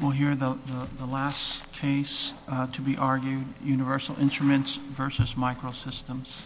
We'll hear the last case to be argued Universal Instruments versus Microsystems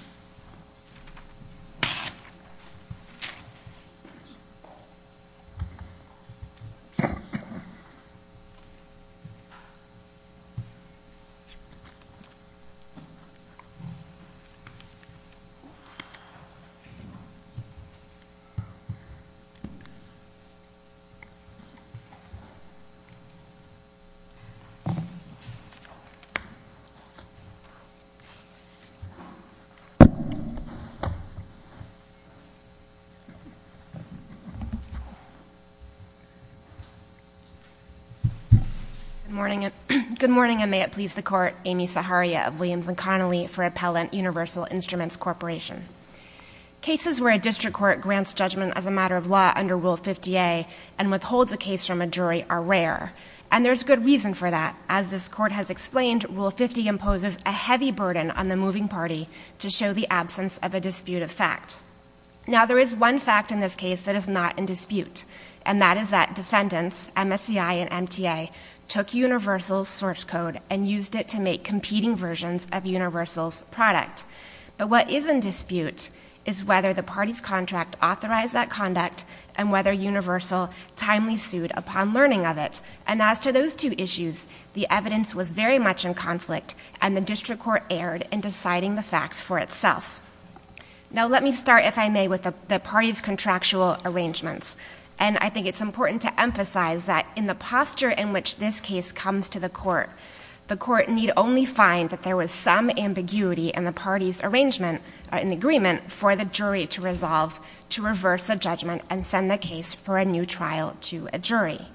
Good morning, and may it please the Court, Amy Saharia of Williams & Connolly for Appellant Universal Instruments Corporation. Cases where a district court grants judgment as a matter of law under Rule 50A and withholds a case from a jury are rare, and there's good reason for that. As this Court has explained, Rule 50 imposes a heavy burden on the moving party to show the absence of a dispute of fact. Now there is one fact in this case that is not in dispute, and that is that defendants, MSCI and MTA, took Universal's source code and used it to make competing versions of Universal's product. But what is in dispute is whether the party's contract authorized that conduct and whether Universal timely sued upon learning of it. And as to those two issues, the evidence was very much in conflict, and the district court erred in deciding the facts for itself. Now let me start, if I may, with the party's contractual arrangements. And I think it's important to emphasize that in the posture in which this case comes to the Court, the Court need only find that there was some ambiguity in the party's arrangement or in the agreement for the jury to resolve to reverse a judgment and send the case for a new trial to a jury.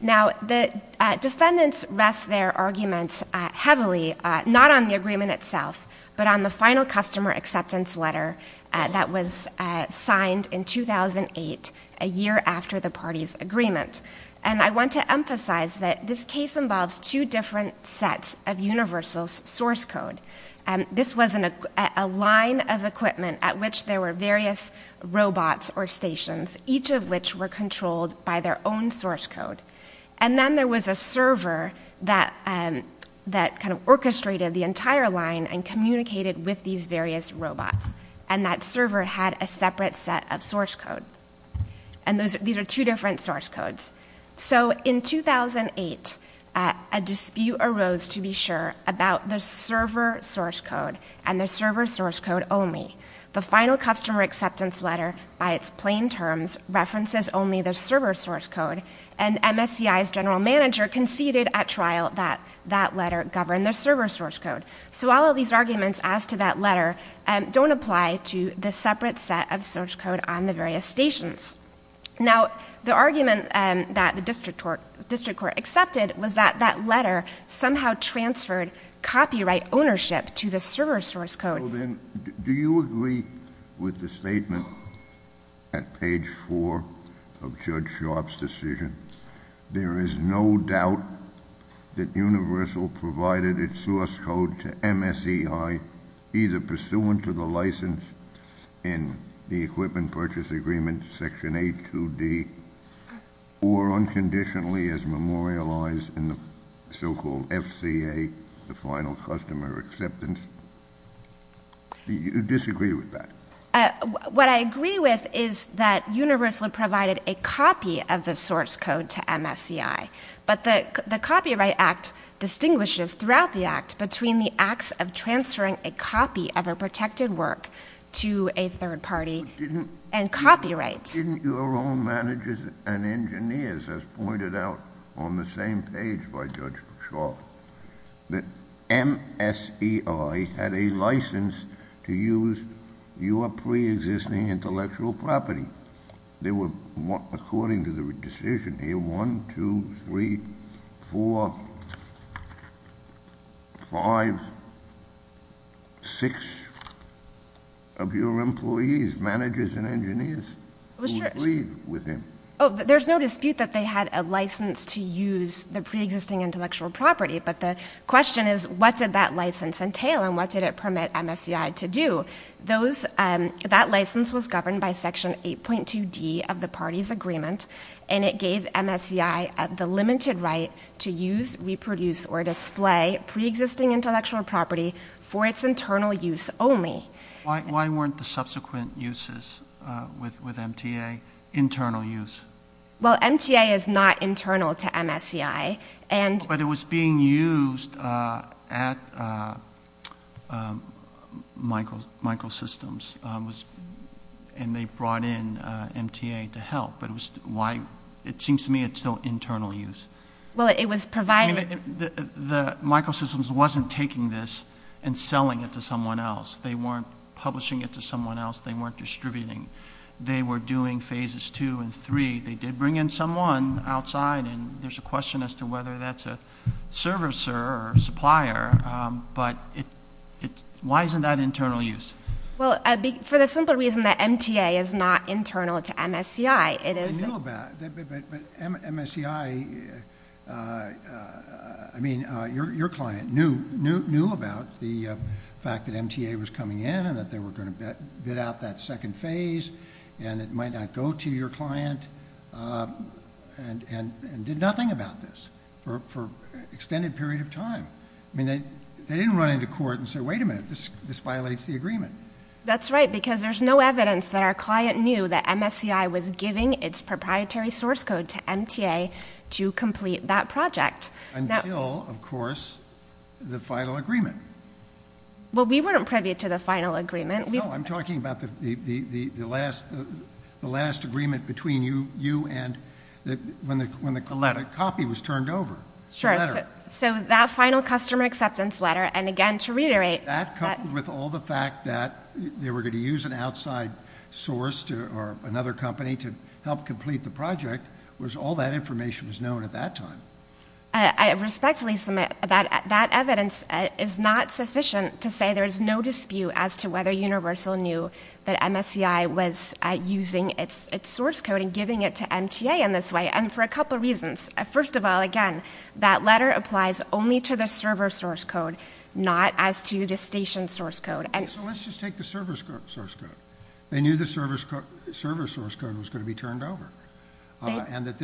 Now the defendants rest their arguments heavily not on the agreement itself, but on the final customer acceptance letter that was signed in 2008, a year after the party's agreement. And I want to emphasize that this case involves two different sets of Universal's source code. This was a line of equipment at which there were various robots or stations, each of which were controlled by their own source code. And then there was a server that kind of orchestrated the entire line and communicated with these various robots. And that server had a separate set of source code. And these are two different source codes. So in 2008, a dispute arose, to be sure, about the server source code and the server source code only. The final customer acceptance letter, by its plain terms, references only the server source code. And MSCI's general manager conceded at trial that that letter governed the server source code. So all of these arguments as to that letter don't apply to the separate set of source code on the various stations. Now, the argument that the district court accepted was that that letter somehow transferred copyright ownership to the server source code. Well, then, do you agree with the statement at page 4 of Judge Sharpe's decision? There is no doubt that Universal provided its source code to MSCI, either pursuant to license in the Equipment Purchase Agreement, Section 82D, or unconditionally as memorialized in the so-called FCA, the Final Customer Acceptance. Do you disagree with that? What I agree with is that Universal provided a copy of the source code to MSCI. But the Copyright Act distinguishes, throughout the Act, between the acts of transferring a copy of a protected work to a third party and copyright. Didn't your own managers and engineers, as pointed out on the same page by Judge Sharpe, that MSCI had a license to use your preexisting intellectual property? They were, according to the decision here, 1, 2, 3, 4, 5, 6, 7, 8, 9, 10, 11, 12, 13, 14, 15, 16 of your employees, managers and engineers, who agreed with him? There's no dispute that they had a license to use the preexisting intellectual property. But the question is, what did that license entail, and what did it permit MSCI to do? That license was governed by Section 8.2D of the parties' agreement, and it gave MSCI the limited right to use, reproduce, or display preexisting intellectual property for its internal use only. Why weren't the subsequent uses with MTA internal use? Well, MTA is not internal to MSCI. But it was being used at Microsystems, and they brought in MTA to help. It seems to me it's still internal use. Well, it was provided- The Microsystems wasn't taking this and selling it to someone else. They weren't publishing it to someone else. They weren't distributing. They were doing phases two and three. They did bring in someone outside, and there's a question as to whether that's a servicer or supplier. But why isn't that internal use? Well, for the simple reason that MTA is not internal to MSCI, it is- But MSCI... I mean, your client knew about the fact that MTA was coming in, and that they were going to bid out that second phase, and it might not go to your client, and did nothing about this for an extended period of time. I mean, they didn't run into court and say, wait a minute, this violates the agreement. That's right, because there's no evidence that our client knew that MSCI was giving its proprietary source code to MTA to complete that project. Until, of course, the final agreement. Well, we weren't privy to the final agreement. No, I'm talking about the last agreement between you and... when the copy was turned over. Sure, so that final customer acceptance letter, and again, to reiterate- That, coupled with all the fact that they were going to use an outside source or another company to help complete the project, was all that information was known at that time. I respectfully submit that that evidence is not sufficient to say there is no dispute as to whether Universal knew that MSCI was using its source code and giving it to MTA in this way, and for a couple reasons. First of all, again, that letter applies only to the server source code, not as to the station source code. So let's just take the server source code. They knew the server source code was going to be turned over, and that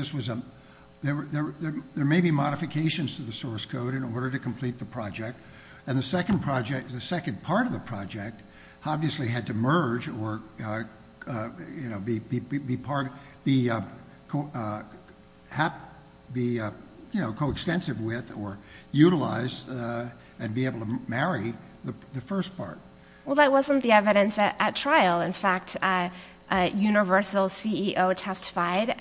there may be modifications to the source code in order to complete the project, and the second part of the project obviously had to merge or be coextensive with or utilize and be able to marry the first part. Well, that wasn't the evidence at trial. In fact, Universal's CEO testified,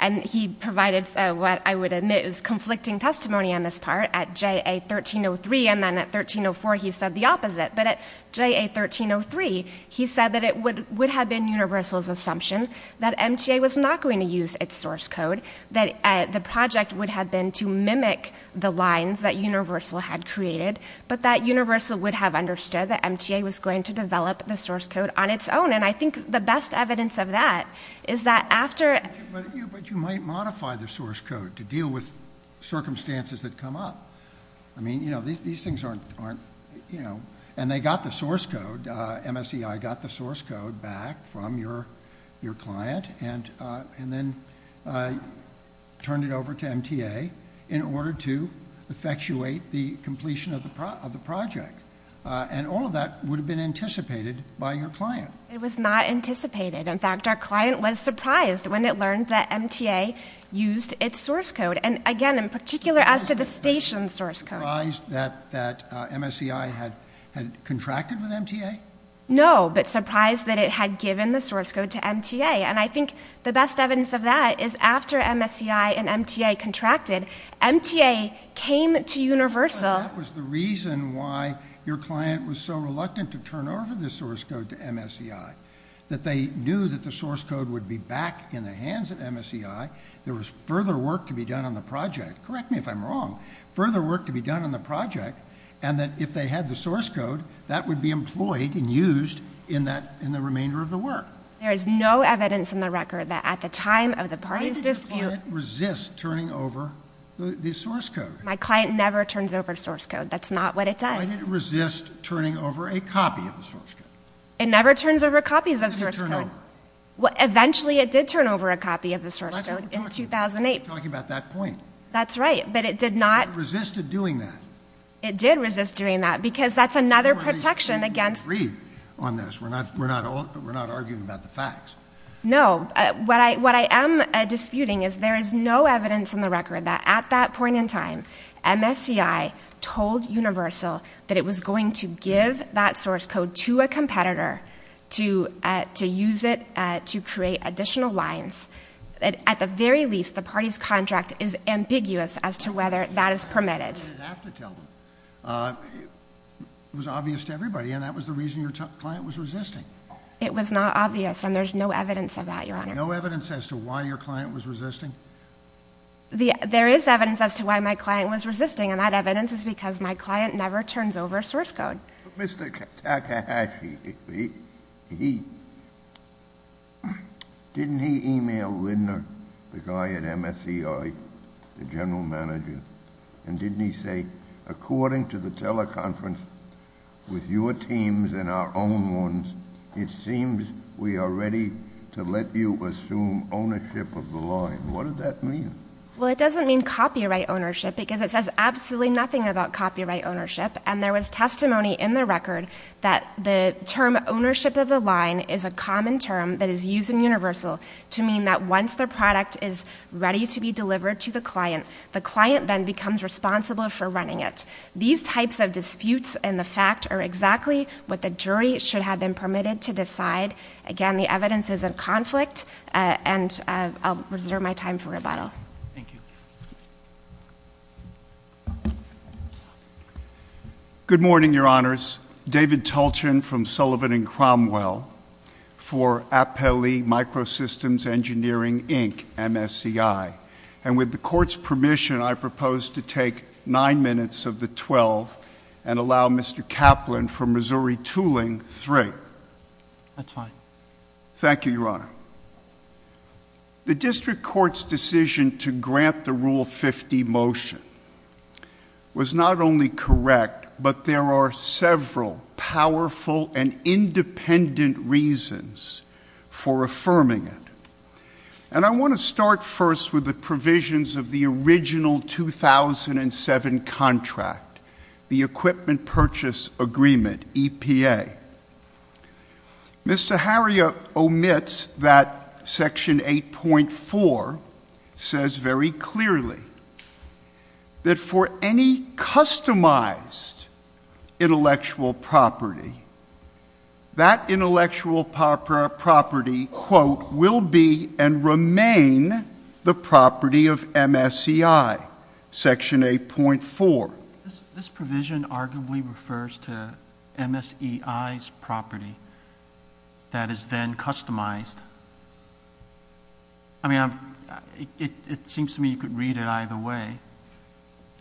and he provided what I would admit is conflicting testimony on this part at JA1303, and then at 1304 he said the opposite. But at JA1303, he said that it would have been Universal's assumption that MTA was not going to use its source code, that the project would have been to mimic the lines that Universal had created, but that Universal would have understood that MTA was going to develop the source code on its own, and I think the best evidence of that is that after... But you might modify the source code to deal with circumstances that come up. I mean, these things aren't... And they got the source code, MSEI got the source code back from your client, and then turned it over to MTA in order to effectuate the completion of the project, and all of that would have been anticipated by your client. It was not anticipated. In fact, our client was surprised when it learned that MTA used its source code, and again, in particular, as to the station source code. Surprised that MSEI had contracted with MTA? No, but surprised that it had given the source code to MTA, and I think the best evidence of that is after MSEI and MTA contracted, MTA came to Universal... But that was the reason why your client was so reluctant to turn over the source code to MSEI, that they knew that the source code would be back in the hands of MSEI, there was further work to be done on the project. Correct me if I'm wrong. Further work to be done on the project, and that if they had the source code, that would be employed and used in the remainder of the work. There is no evidence in the record that at the time of the parties dispute... Why did your client resist turning over the source code? My client never turns over source code. That's not what it does. Why did it resist turning over a copy of the source code? It never turns over copies of source code. Why did it turn over? Well, eventually it did turn over a copy of the source code in 2008. That's what we're talking about. We're talking about that point. That's right, but it did not... It resisted doing that. It did resist doing that, because that's another protection against... We agree on this. We're not arguing about the facts. No. MSCI told Universal that it was going to give that source code to a competitor to use it to create additional lines. At the very least, the party's contract is ambiguous as to whether that is permitted. You didn't have to tell them. It was obvious to everybody, and that was the reason your client was resisting. It was not obvious, and there's no evidence of that, Your Honor. No evidence as to why your client was resisting? There is evidence as to why my client was resisting, and that evidence is because my client never turns over source code. Mr. Takahashi, didn't he email Lindner, the guy at MSCI, the general manager, and didn't he say, according to the teleconference with your teams and our own ones, it seems we are ready to let you assume ownership of the line? What does that mean? Well, it doesn't mean copyright ownership, because it says absolutely nothing about copyright ownership, and there was testimony in the record that the term ownership of the line is a common term that is used in Universal to mean that once the product is ready to be delivered to the client, the client then becomes responsible for running it. These types of disputes in the fact are exactly what the jury should have been permitted to decide. Again, the evidence is in conflict, and I'll reserve my time for rebuttal. Thank you. Good morning, Your Honors. David Tulchin from Sullivan and Cromwell for Appelli Microsystems Engineering, Inc., MSCI. And with the Court's permission, I propose to take nine minutes of the 12 and allow Mr. Kaplan from Missouri Tooling three. That's fine. Thank you, Your Honor. The District Court's decision to grant the Rule 50 motion was not only correct, but there are several powerful and independent reasons for affirming it. And I want to start first with the provisions of the original 2007 contract, the Equipment Purchase Agreement, EPA. Mr. Harria omits that Section 8.4 says very clearly that for any customized intellectual property, that intellectual property, quote, will be and remain the property of MSCI, Section 8.4. This provision arguably refers to MSCI's property that is then customized. I mean, it seems to me you could read it either way.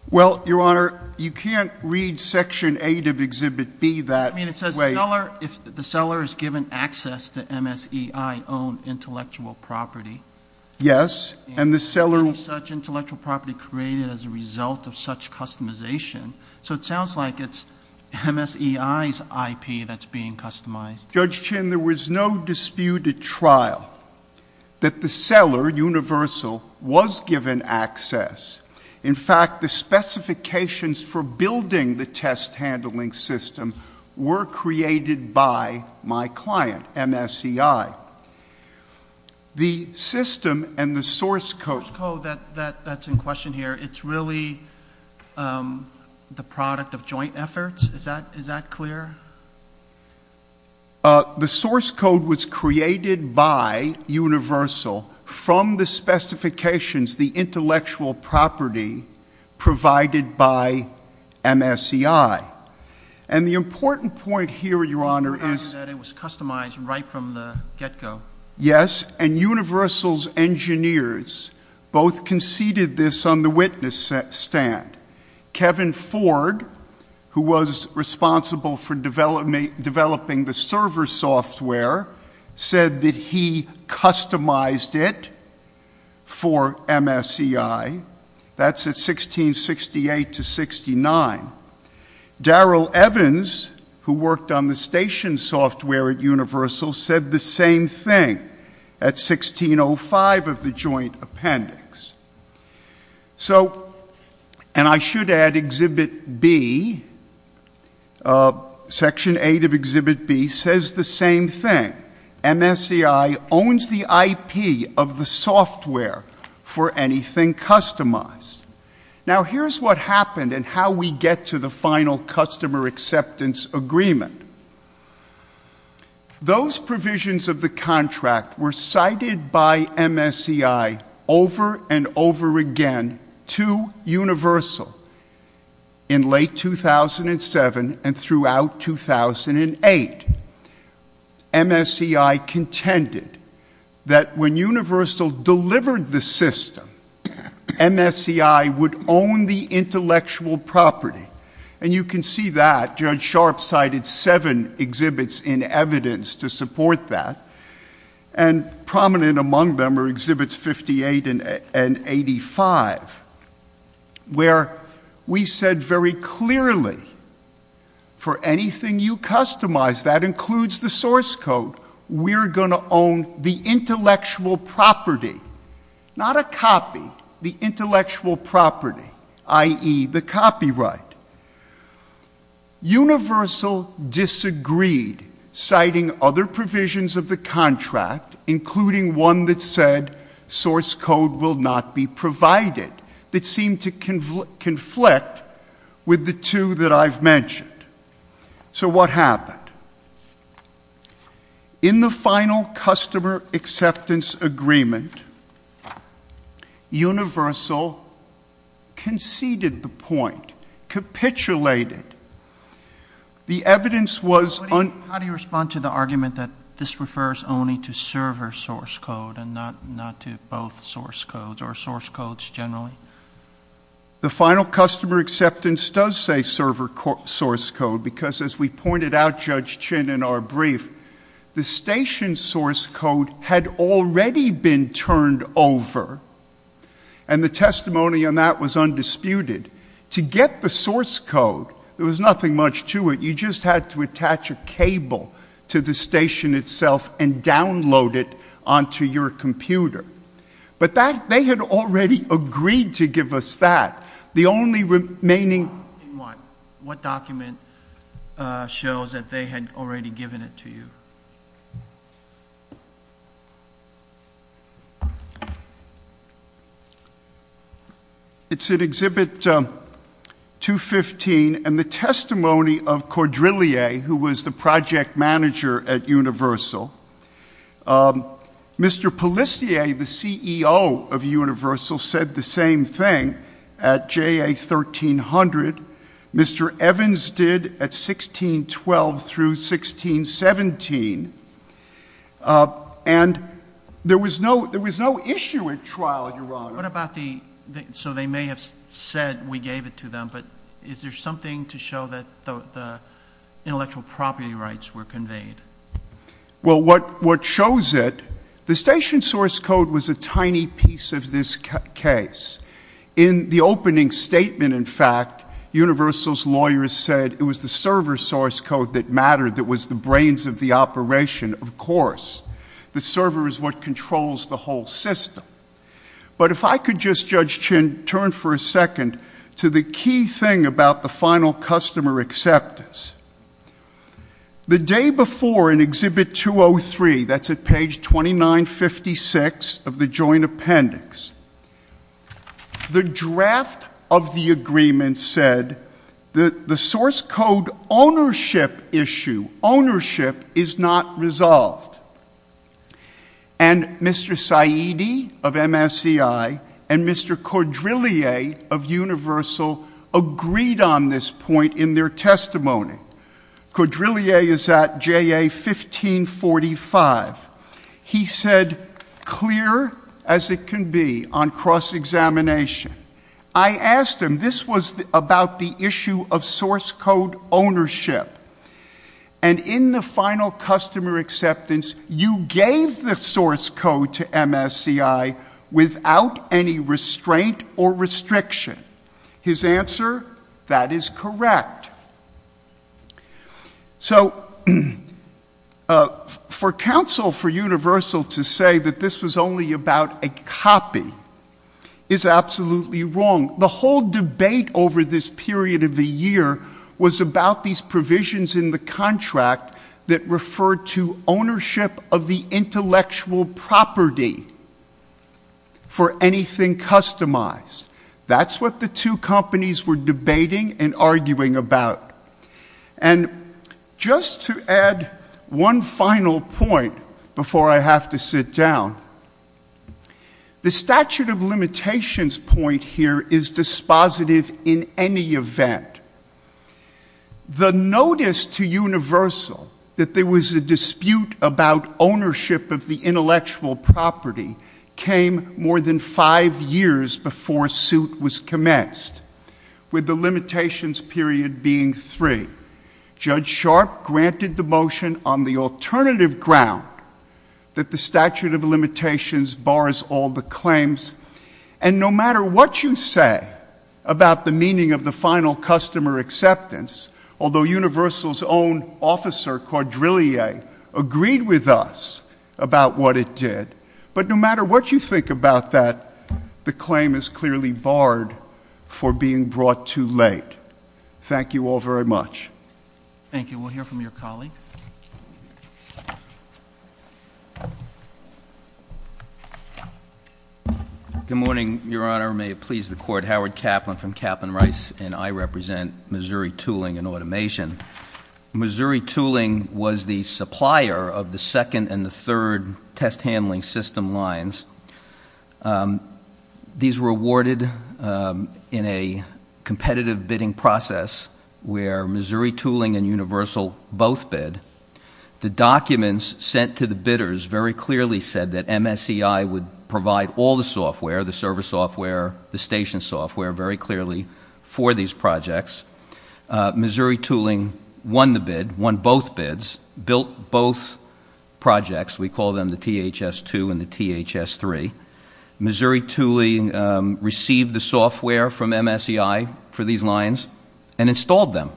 Well, Your Honor, you can't read Section 8 of Exhibit B that way. I mean, it says the seller is given access to MSCI-owned intellectual property. Yes. And the seller will have such intellectual property created as a result of such customization. So it sounds like it's MSCI's IP that's being customized. Judge Chin, there was no disputed trial that the seller, Universal, was given access. In fact, the specifications for building the test handling system were created by my client, MSCI. The system and the source code that's in question here, it's really the product of joint efforts? Is that clear? The source code was created by Universal from the specifications, the intellectual property provided by MSCI. And the important point here, Your Honor, is —— that it was customized right from the get-go. Yes. And Universal's engineers both conceded this on the witness stand. Kevin Ford, who was responsible for developing the server software, said that he customized it for MSCI. That's at 1668 to 1669. Darrell Evans, who worked on the station software at Universal, said the same thing at 1605 of the joint appendix. So — and I should add Exhibit B, Section 8 of Exhibit B, says the same thing. MSCI owns the IP of the software for anything customized. Now, here's what happened and how we get to the final customer acceptance agreement. Those provisions of the contract were cited by MSCI over and over again to Universal in late 2007 and throughout 2008. MSCI contended that when Universal delivered the system, MSCI would own the intellectual property. And you can see that. Judge Sharpe cited seven exhibits in evidence to support that, and prominent among them are Exhibits 58 and 85, where we said very clearly, for anything you customize, that includes the source code, we're going to own the intellectual property. Not a copy, the intellectual property, i.e., the copyright. Universal disagreed, citing other provisions of the contract, including one that said source code will not be provided, that seemed to conflict with the two that I've mentioned. So what happened? In the final customer acceptance agreement, Universal conceded the point, capitulated. The evidence was un- How do you respond to the argument that this refers only to server source code and not to both source codes or source codes generally? The final customer acceptance does say server source code, because as we pointed out, Judge Chin, in our brief, the station source code had already been turned over, and the testimony on that was undisputed. To get the source code, there was nothing much to it. You just had to attach a cable to the station itself and download it onto your computer. But they had already agreed to give us that. The only remaining- In what? What document shows that they had already given it to you? It's in Exhibit 215, and the testimony of Cordelier, who was the project manager at Universal. Mr. Pellissier, the CEO of Universal, said the same thing at JA 1300. Mr. Evans did at 1612 through 1617. And there was no issue at trial, Your Honor. What about the- so they may have said we gave it to them, but is there something to show that the intellectual property rights were conveyed? Well, what shows it, the station source code was a tiny piece of this case. In the opening statement, in fact, Universal's lawyers said it was the server source code that mattered, that was the brains of the operation, of course. The server is what controls the whole system. But if I could just, Judge Chin, turn for a second to the key thing about the final customer acceptance. The day before, in Exhibit 203, that's at page 2956 of the joint appendix, the draft of the agreement said that the source code ownership issue, ownership, is not resolved. And Mr. Saidi of MSCI and Mr. Caudrillier of Universal agreed on this point in their testimony. Caudrillier is at JA 1545. He said, clear as it can be on cross-examination. I asked him, this was about the issue of source code ownership. And in the final customer acceptance, you gave the source code to MSCI without any restraint or restriction. His answer, that is correct. So, for counsel for Universal to say that this was only about a copy is absolutely wrong. The whole debate over this period of the year was about these provisions in the contract that referred to ownership of the intellectual property for anything customized. That's what the two companies were debating and arguing about. And just to add one final point before I have to sit down, the statute of limitations point here is dispositive in any event. The notice to Universal that there was a dispute about ownership of the intellectual property came more than five years before suit was commenced, with the limitations period being three. Judge Sharp granted the motion on the alternative ground that the statute of limitations bars all the claims. And no matter what you say about the meaning of the final customer acceptance, although Universal's own officer, Caudrillier, agreed with us about what it did, but no matter what you think about that, the claim is clearly barred for being brought too late. Thank you all very much. Thank you. We'll hear from your colleague. Good morning, Your Honor. May it please the Court. Howard Kaplan from Kaplan Rice, and I represent Missouri Tooling and Automation. Missouri Tooling was the supplier of the second and the third test handling system lines. These were awarded in a competitive bidding process where Missouri Tooling and Universal both bid. The documents sent to the bidders very clearly said that MSCI would provide all the software, the server software, the station software, very clearly for these projects. Missouri Tooling won the bid, won both bids, built both projects. We call them the THS-2 and the THS-3. Missouri Tooling received the software from MSCI for these lines and installed them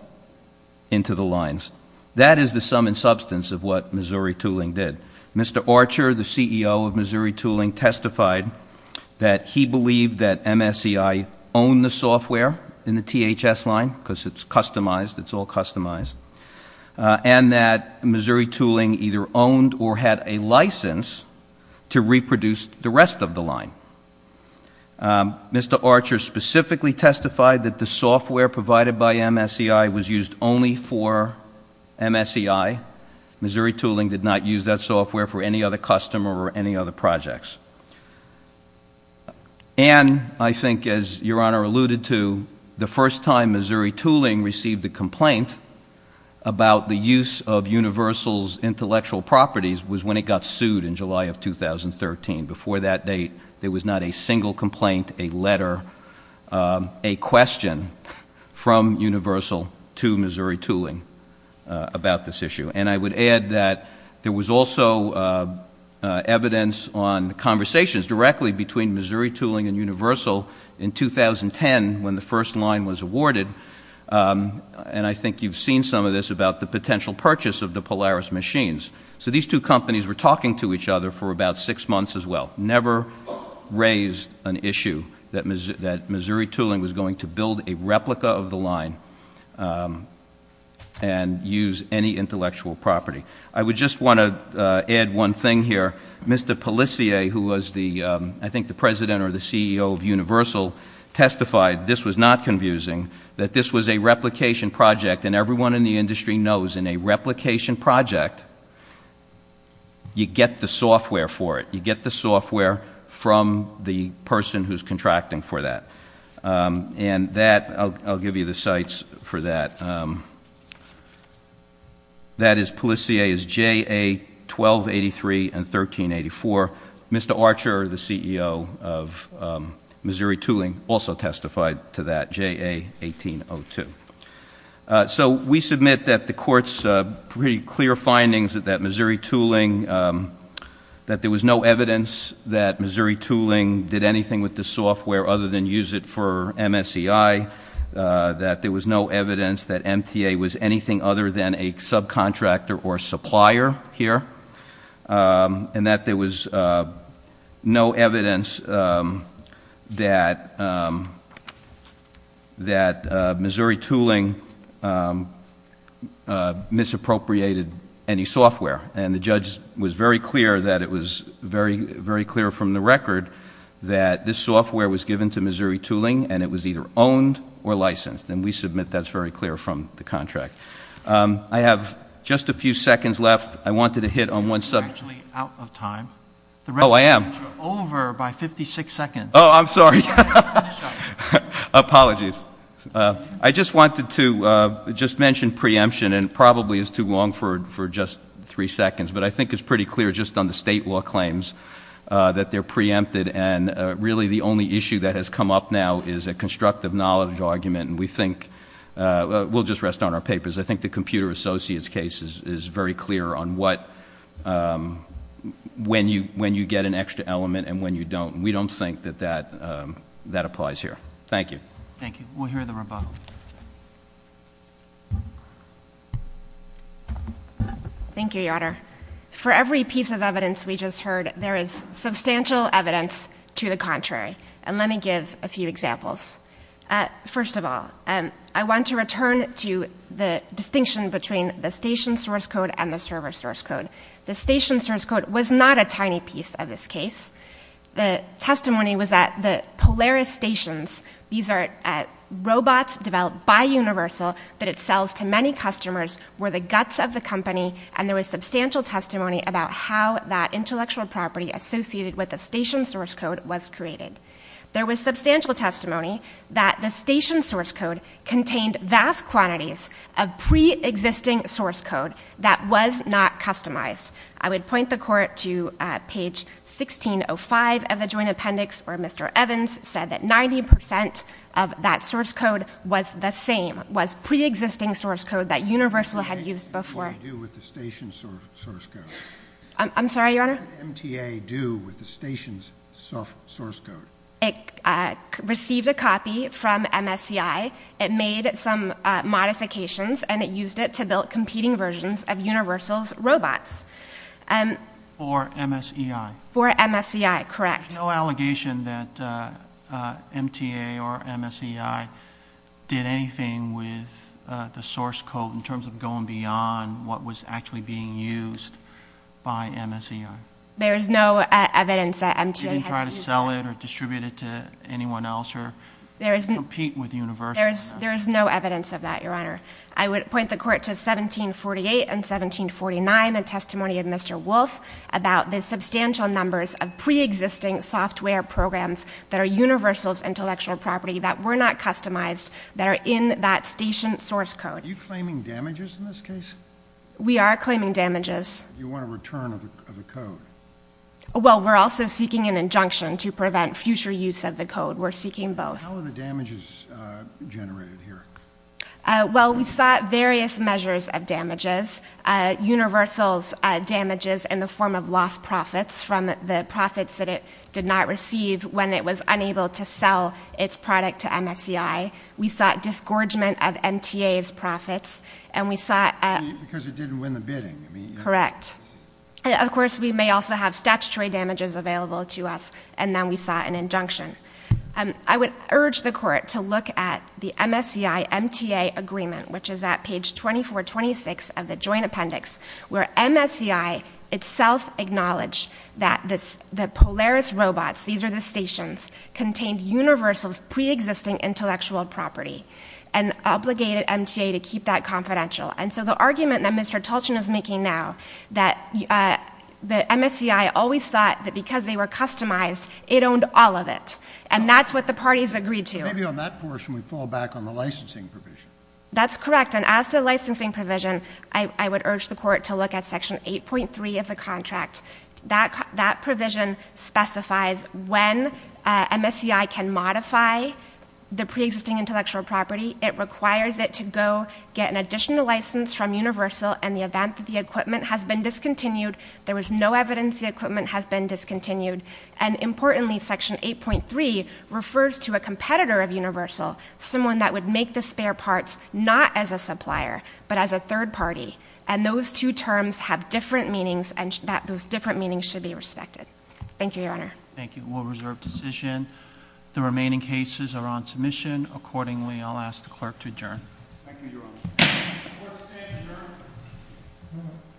into the lines. That is the sum and substance of what Missouri Tooling did. Mr. Archer, the CEO of Missouri Tooling, testified that he believed that MSCI owned the software in the THS line, because it's customized, it's all customized, and that Missouri Tooling either owned or had a license to reproduce the rest of the line. Mr. Archer specifically testified that the software provided by MSCI was used only for MSCI. Missouri Tooling did not use that software for any other customer or any other projects. And I think, as Your Honor alluded to, the first time Missouri Tooling received a complaint about the use of Universal's intellectual properties was when it got sued in July of 2013. Before that date, there was not a single complaint, a letter, a question from Universal to Missouri Tooling about this issue. And I would add that there was also evidence on conversations directly between Missouri Tooling and Universal in 2010, when the first line was awarded. And I think you've seen some of this about the potential purchase of the Polaris machines. So these two companies were talking to each other for about six months as well. Never raised an issue that Missouri Tooling was going to build a replica of the line and use any intellectual property. I would just want to add one thing here. Mr. Pellissier, who was, I think, the president or the CEO of Universal, testified, this was not confusing, that this was a replication project, and everyone in the industry knows in a replication project, you get the software for it. You get the software from the person who's contracting for that. And that, I'll give you the sites for that. That is, Pellissier is JA-1283 and 1384. Mr. Archer, the CEO of Missouri Tooling, also testified to that, JA-1802. So we submit that the court's pretty clear findings that Missouri Tooling, that there was no evidence that Missouri Tooling did anything with the software other than use it for MSCI. That there was no evidence that MTA was anything other than a subcontractor or supplier here. And that there was no evidence that Missouri Tooling misappropriated any software. And the judge was very clear that it was very, very clear from the record that this software was given to Missouri Tooling, and it was either owned or licensed. And we submit that's very clear from the contract. I have just a few seconds left. I wanted to hit on one subject. You're actually out of time. Oh, I am. You're over by 56 seconds. Oh, I'm sorry. Apologies. I just wanted to just mention preemption. And it probably is too long for just three seconds. But I think it's pretty clear just on the state law claims that they're preempted. And really the only issue that has come up now is a constructive knowledge argument. We'll just rest on our papers. I think the Computer Associates case is very clear on when you get an extra element and when you don't. We don't think that that applies here. Thank you. Thank you. We'll hear the rebuttal. Thank you, Your Honor. For every piece of evidence we just heard, there is substantial evidence to the contrary. And let me give a few examples. First of all, I want to return to the distinction between the station source code and the server source code. The station source code was not a tiny piece of this case. The testimony was that the Polaris stations, these are robots developed by Universal that it sells to many customers, were the guts of the company. And there was substantial testimony about how that intellectual property associated with the station source code was created. There was substantial testimony that the station source code contained vast quantities of preexisting source code that was not customized. I would point the Court to page 1605 of the Joint Appendix where Mr. Evans said that 90% of that source code was the same, was preexisting source code that Universal had used before. What did MTA do with the station source code? I'm sorry, Your Honor? What did MTA do with the station's source code? It received a copy from MSCI. It made some modifications and it used it to build competing versions of Universal's robots. For MSEI? For MSEI, correct. There's no allegation that MTA or MSEI did anything with the source code in terms of going beyond what was actually being used by MSEI? There is no evidence that MTA has used it. They didn't try to sell it or distribute it to anyone else or compete with Universal? There is no evidence of that, Your Honor. I would point the Court to 1748 and 1749, the testimony of Mr. Wolf, about the substantial numbers of preexisting software programs that are Universal's intellectual property that were not customized, that are in that station source code. Are you claiming damages in this case? We are claiming damages. You want a return of the code? Well, we're also seeking an injunction to prevent future use of the code. We're seeking both. How are the damages generated here? Well, we sought various measures of damages. Universal's damages in the form of lost profits from the profits that it did not receive when it was unable to sell its product to MSEI. We sought disgorgement of MTA's profits. Because it didn't win the bidding? Correct. Of course, we may also have statutory damages available to us, and then we sought an injunction. I would urge the Court to look at the MSEI-MTA agreement, which is at page 2426 of the joint appendix, where MSEI itself acknowledged that the Polaris robots, these are the stations, contained Universal's preexisting intellectual property and obligated MTA to keep that confidential. And so the argument that Mr. Tolchin is making now, that MSEI always thought that because they were customized, it owned all of it. And that's what the parties agreed to. Maybe on that portion we fall back on the licensing provision. That's correct. And as to the licensing provision, I would urge the Court to look at section 8.3 of the contract. That provision specifies when MSEI can modify the preexisting intellectual property. It requires it to go get an additional license from Universal in the event that the equipment has been discontinued. There is no evidence the equipment has been discontinued. And importantly, section 8.3 refers to a competitor of Universal, someone that would make the spare parts not as a supplier, but as a third party. And those two terms have different meanings, and those different meanings should be respected. Thank you, Your Honor. Thank you. We'll reserve decision. The remaining cases are on submission. Accordingly, I'll ask the Clerk to adjourn. Thank you, Your Honor. The Court is adjourned.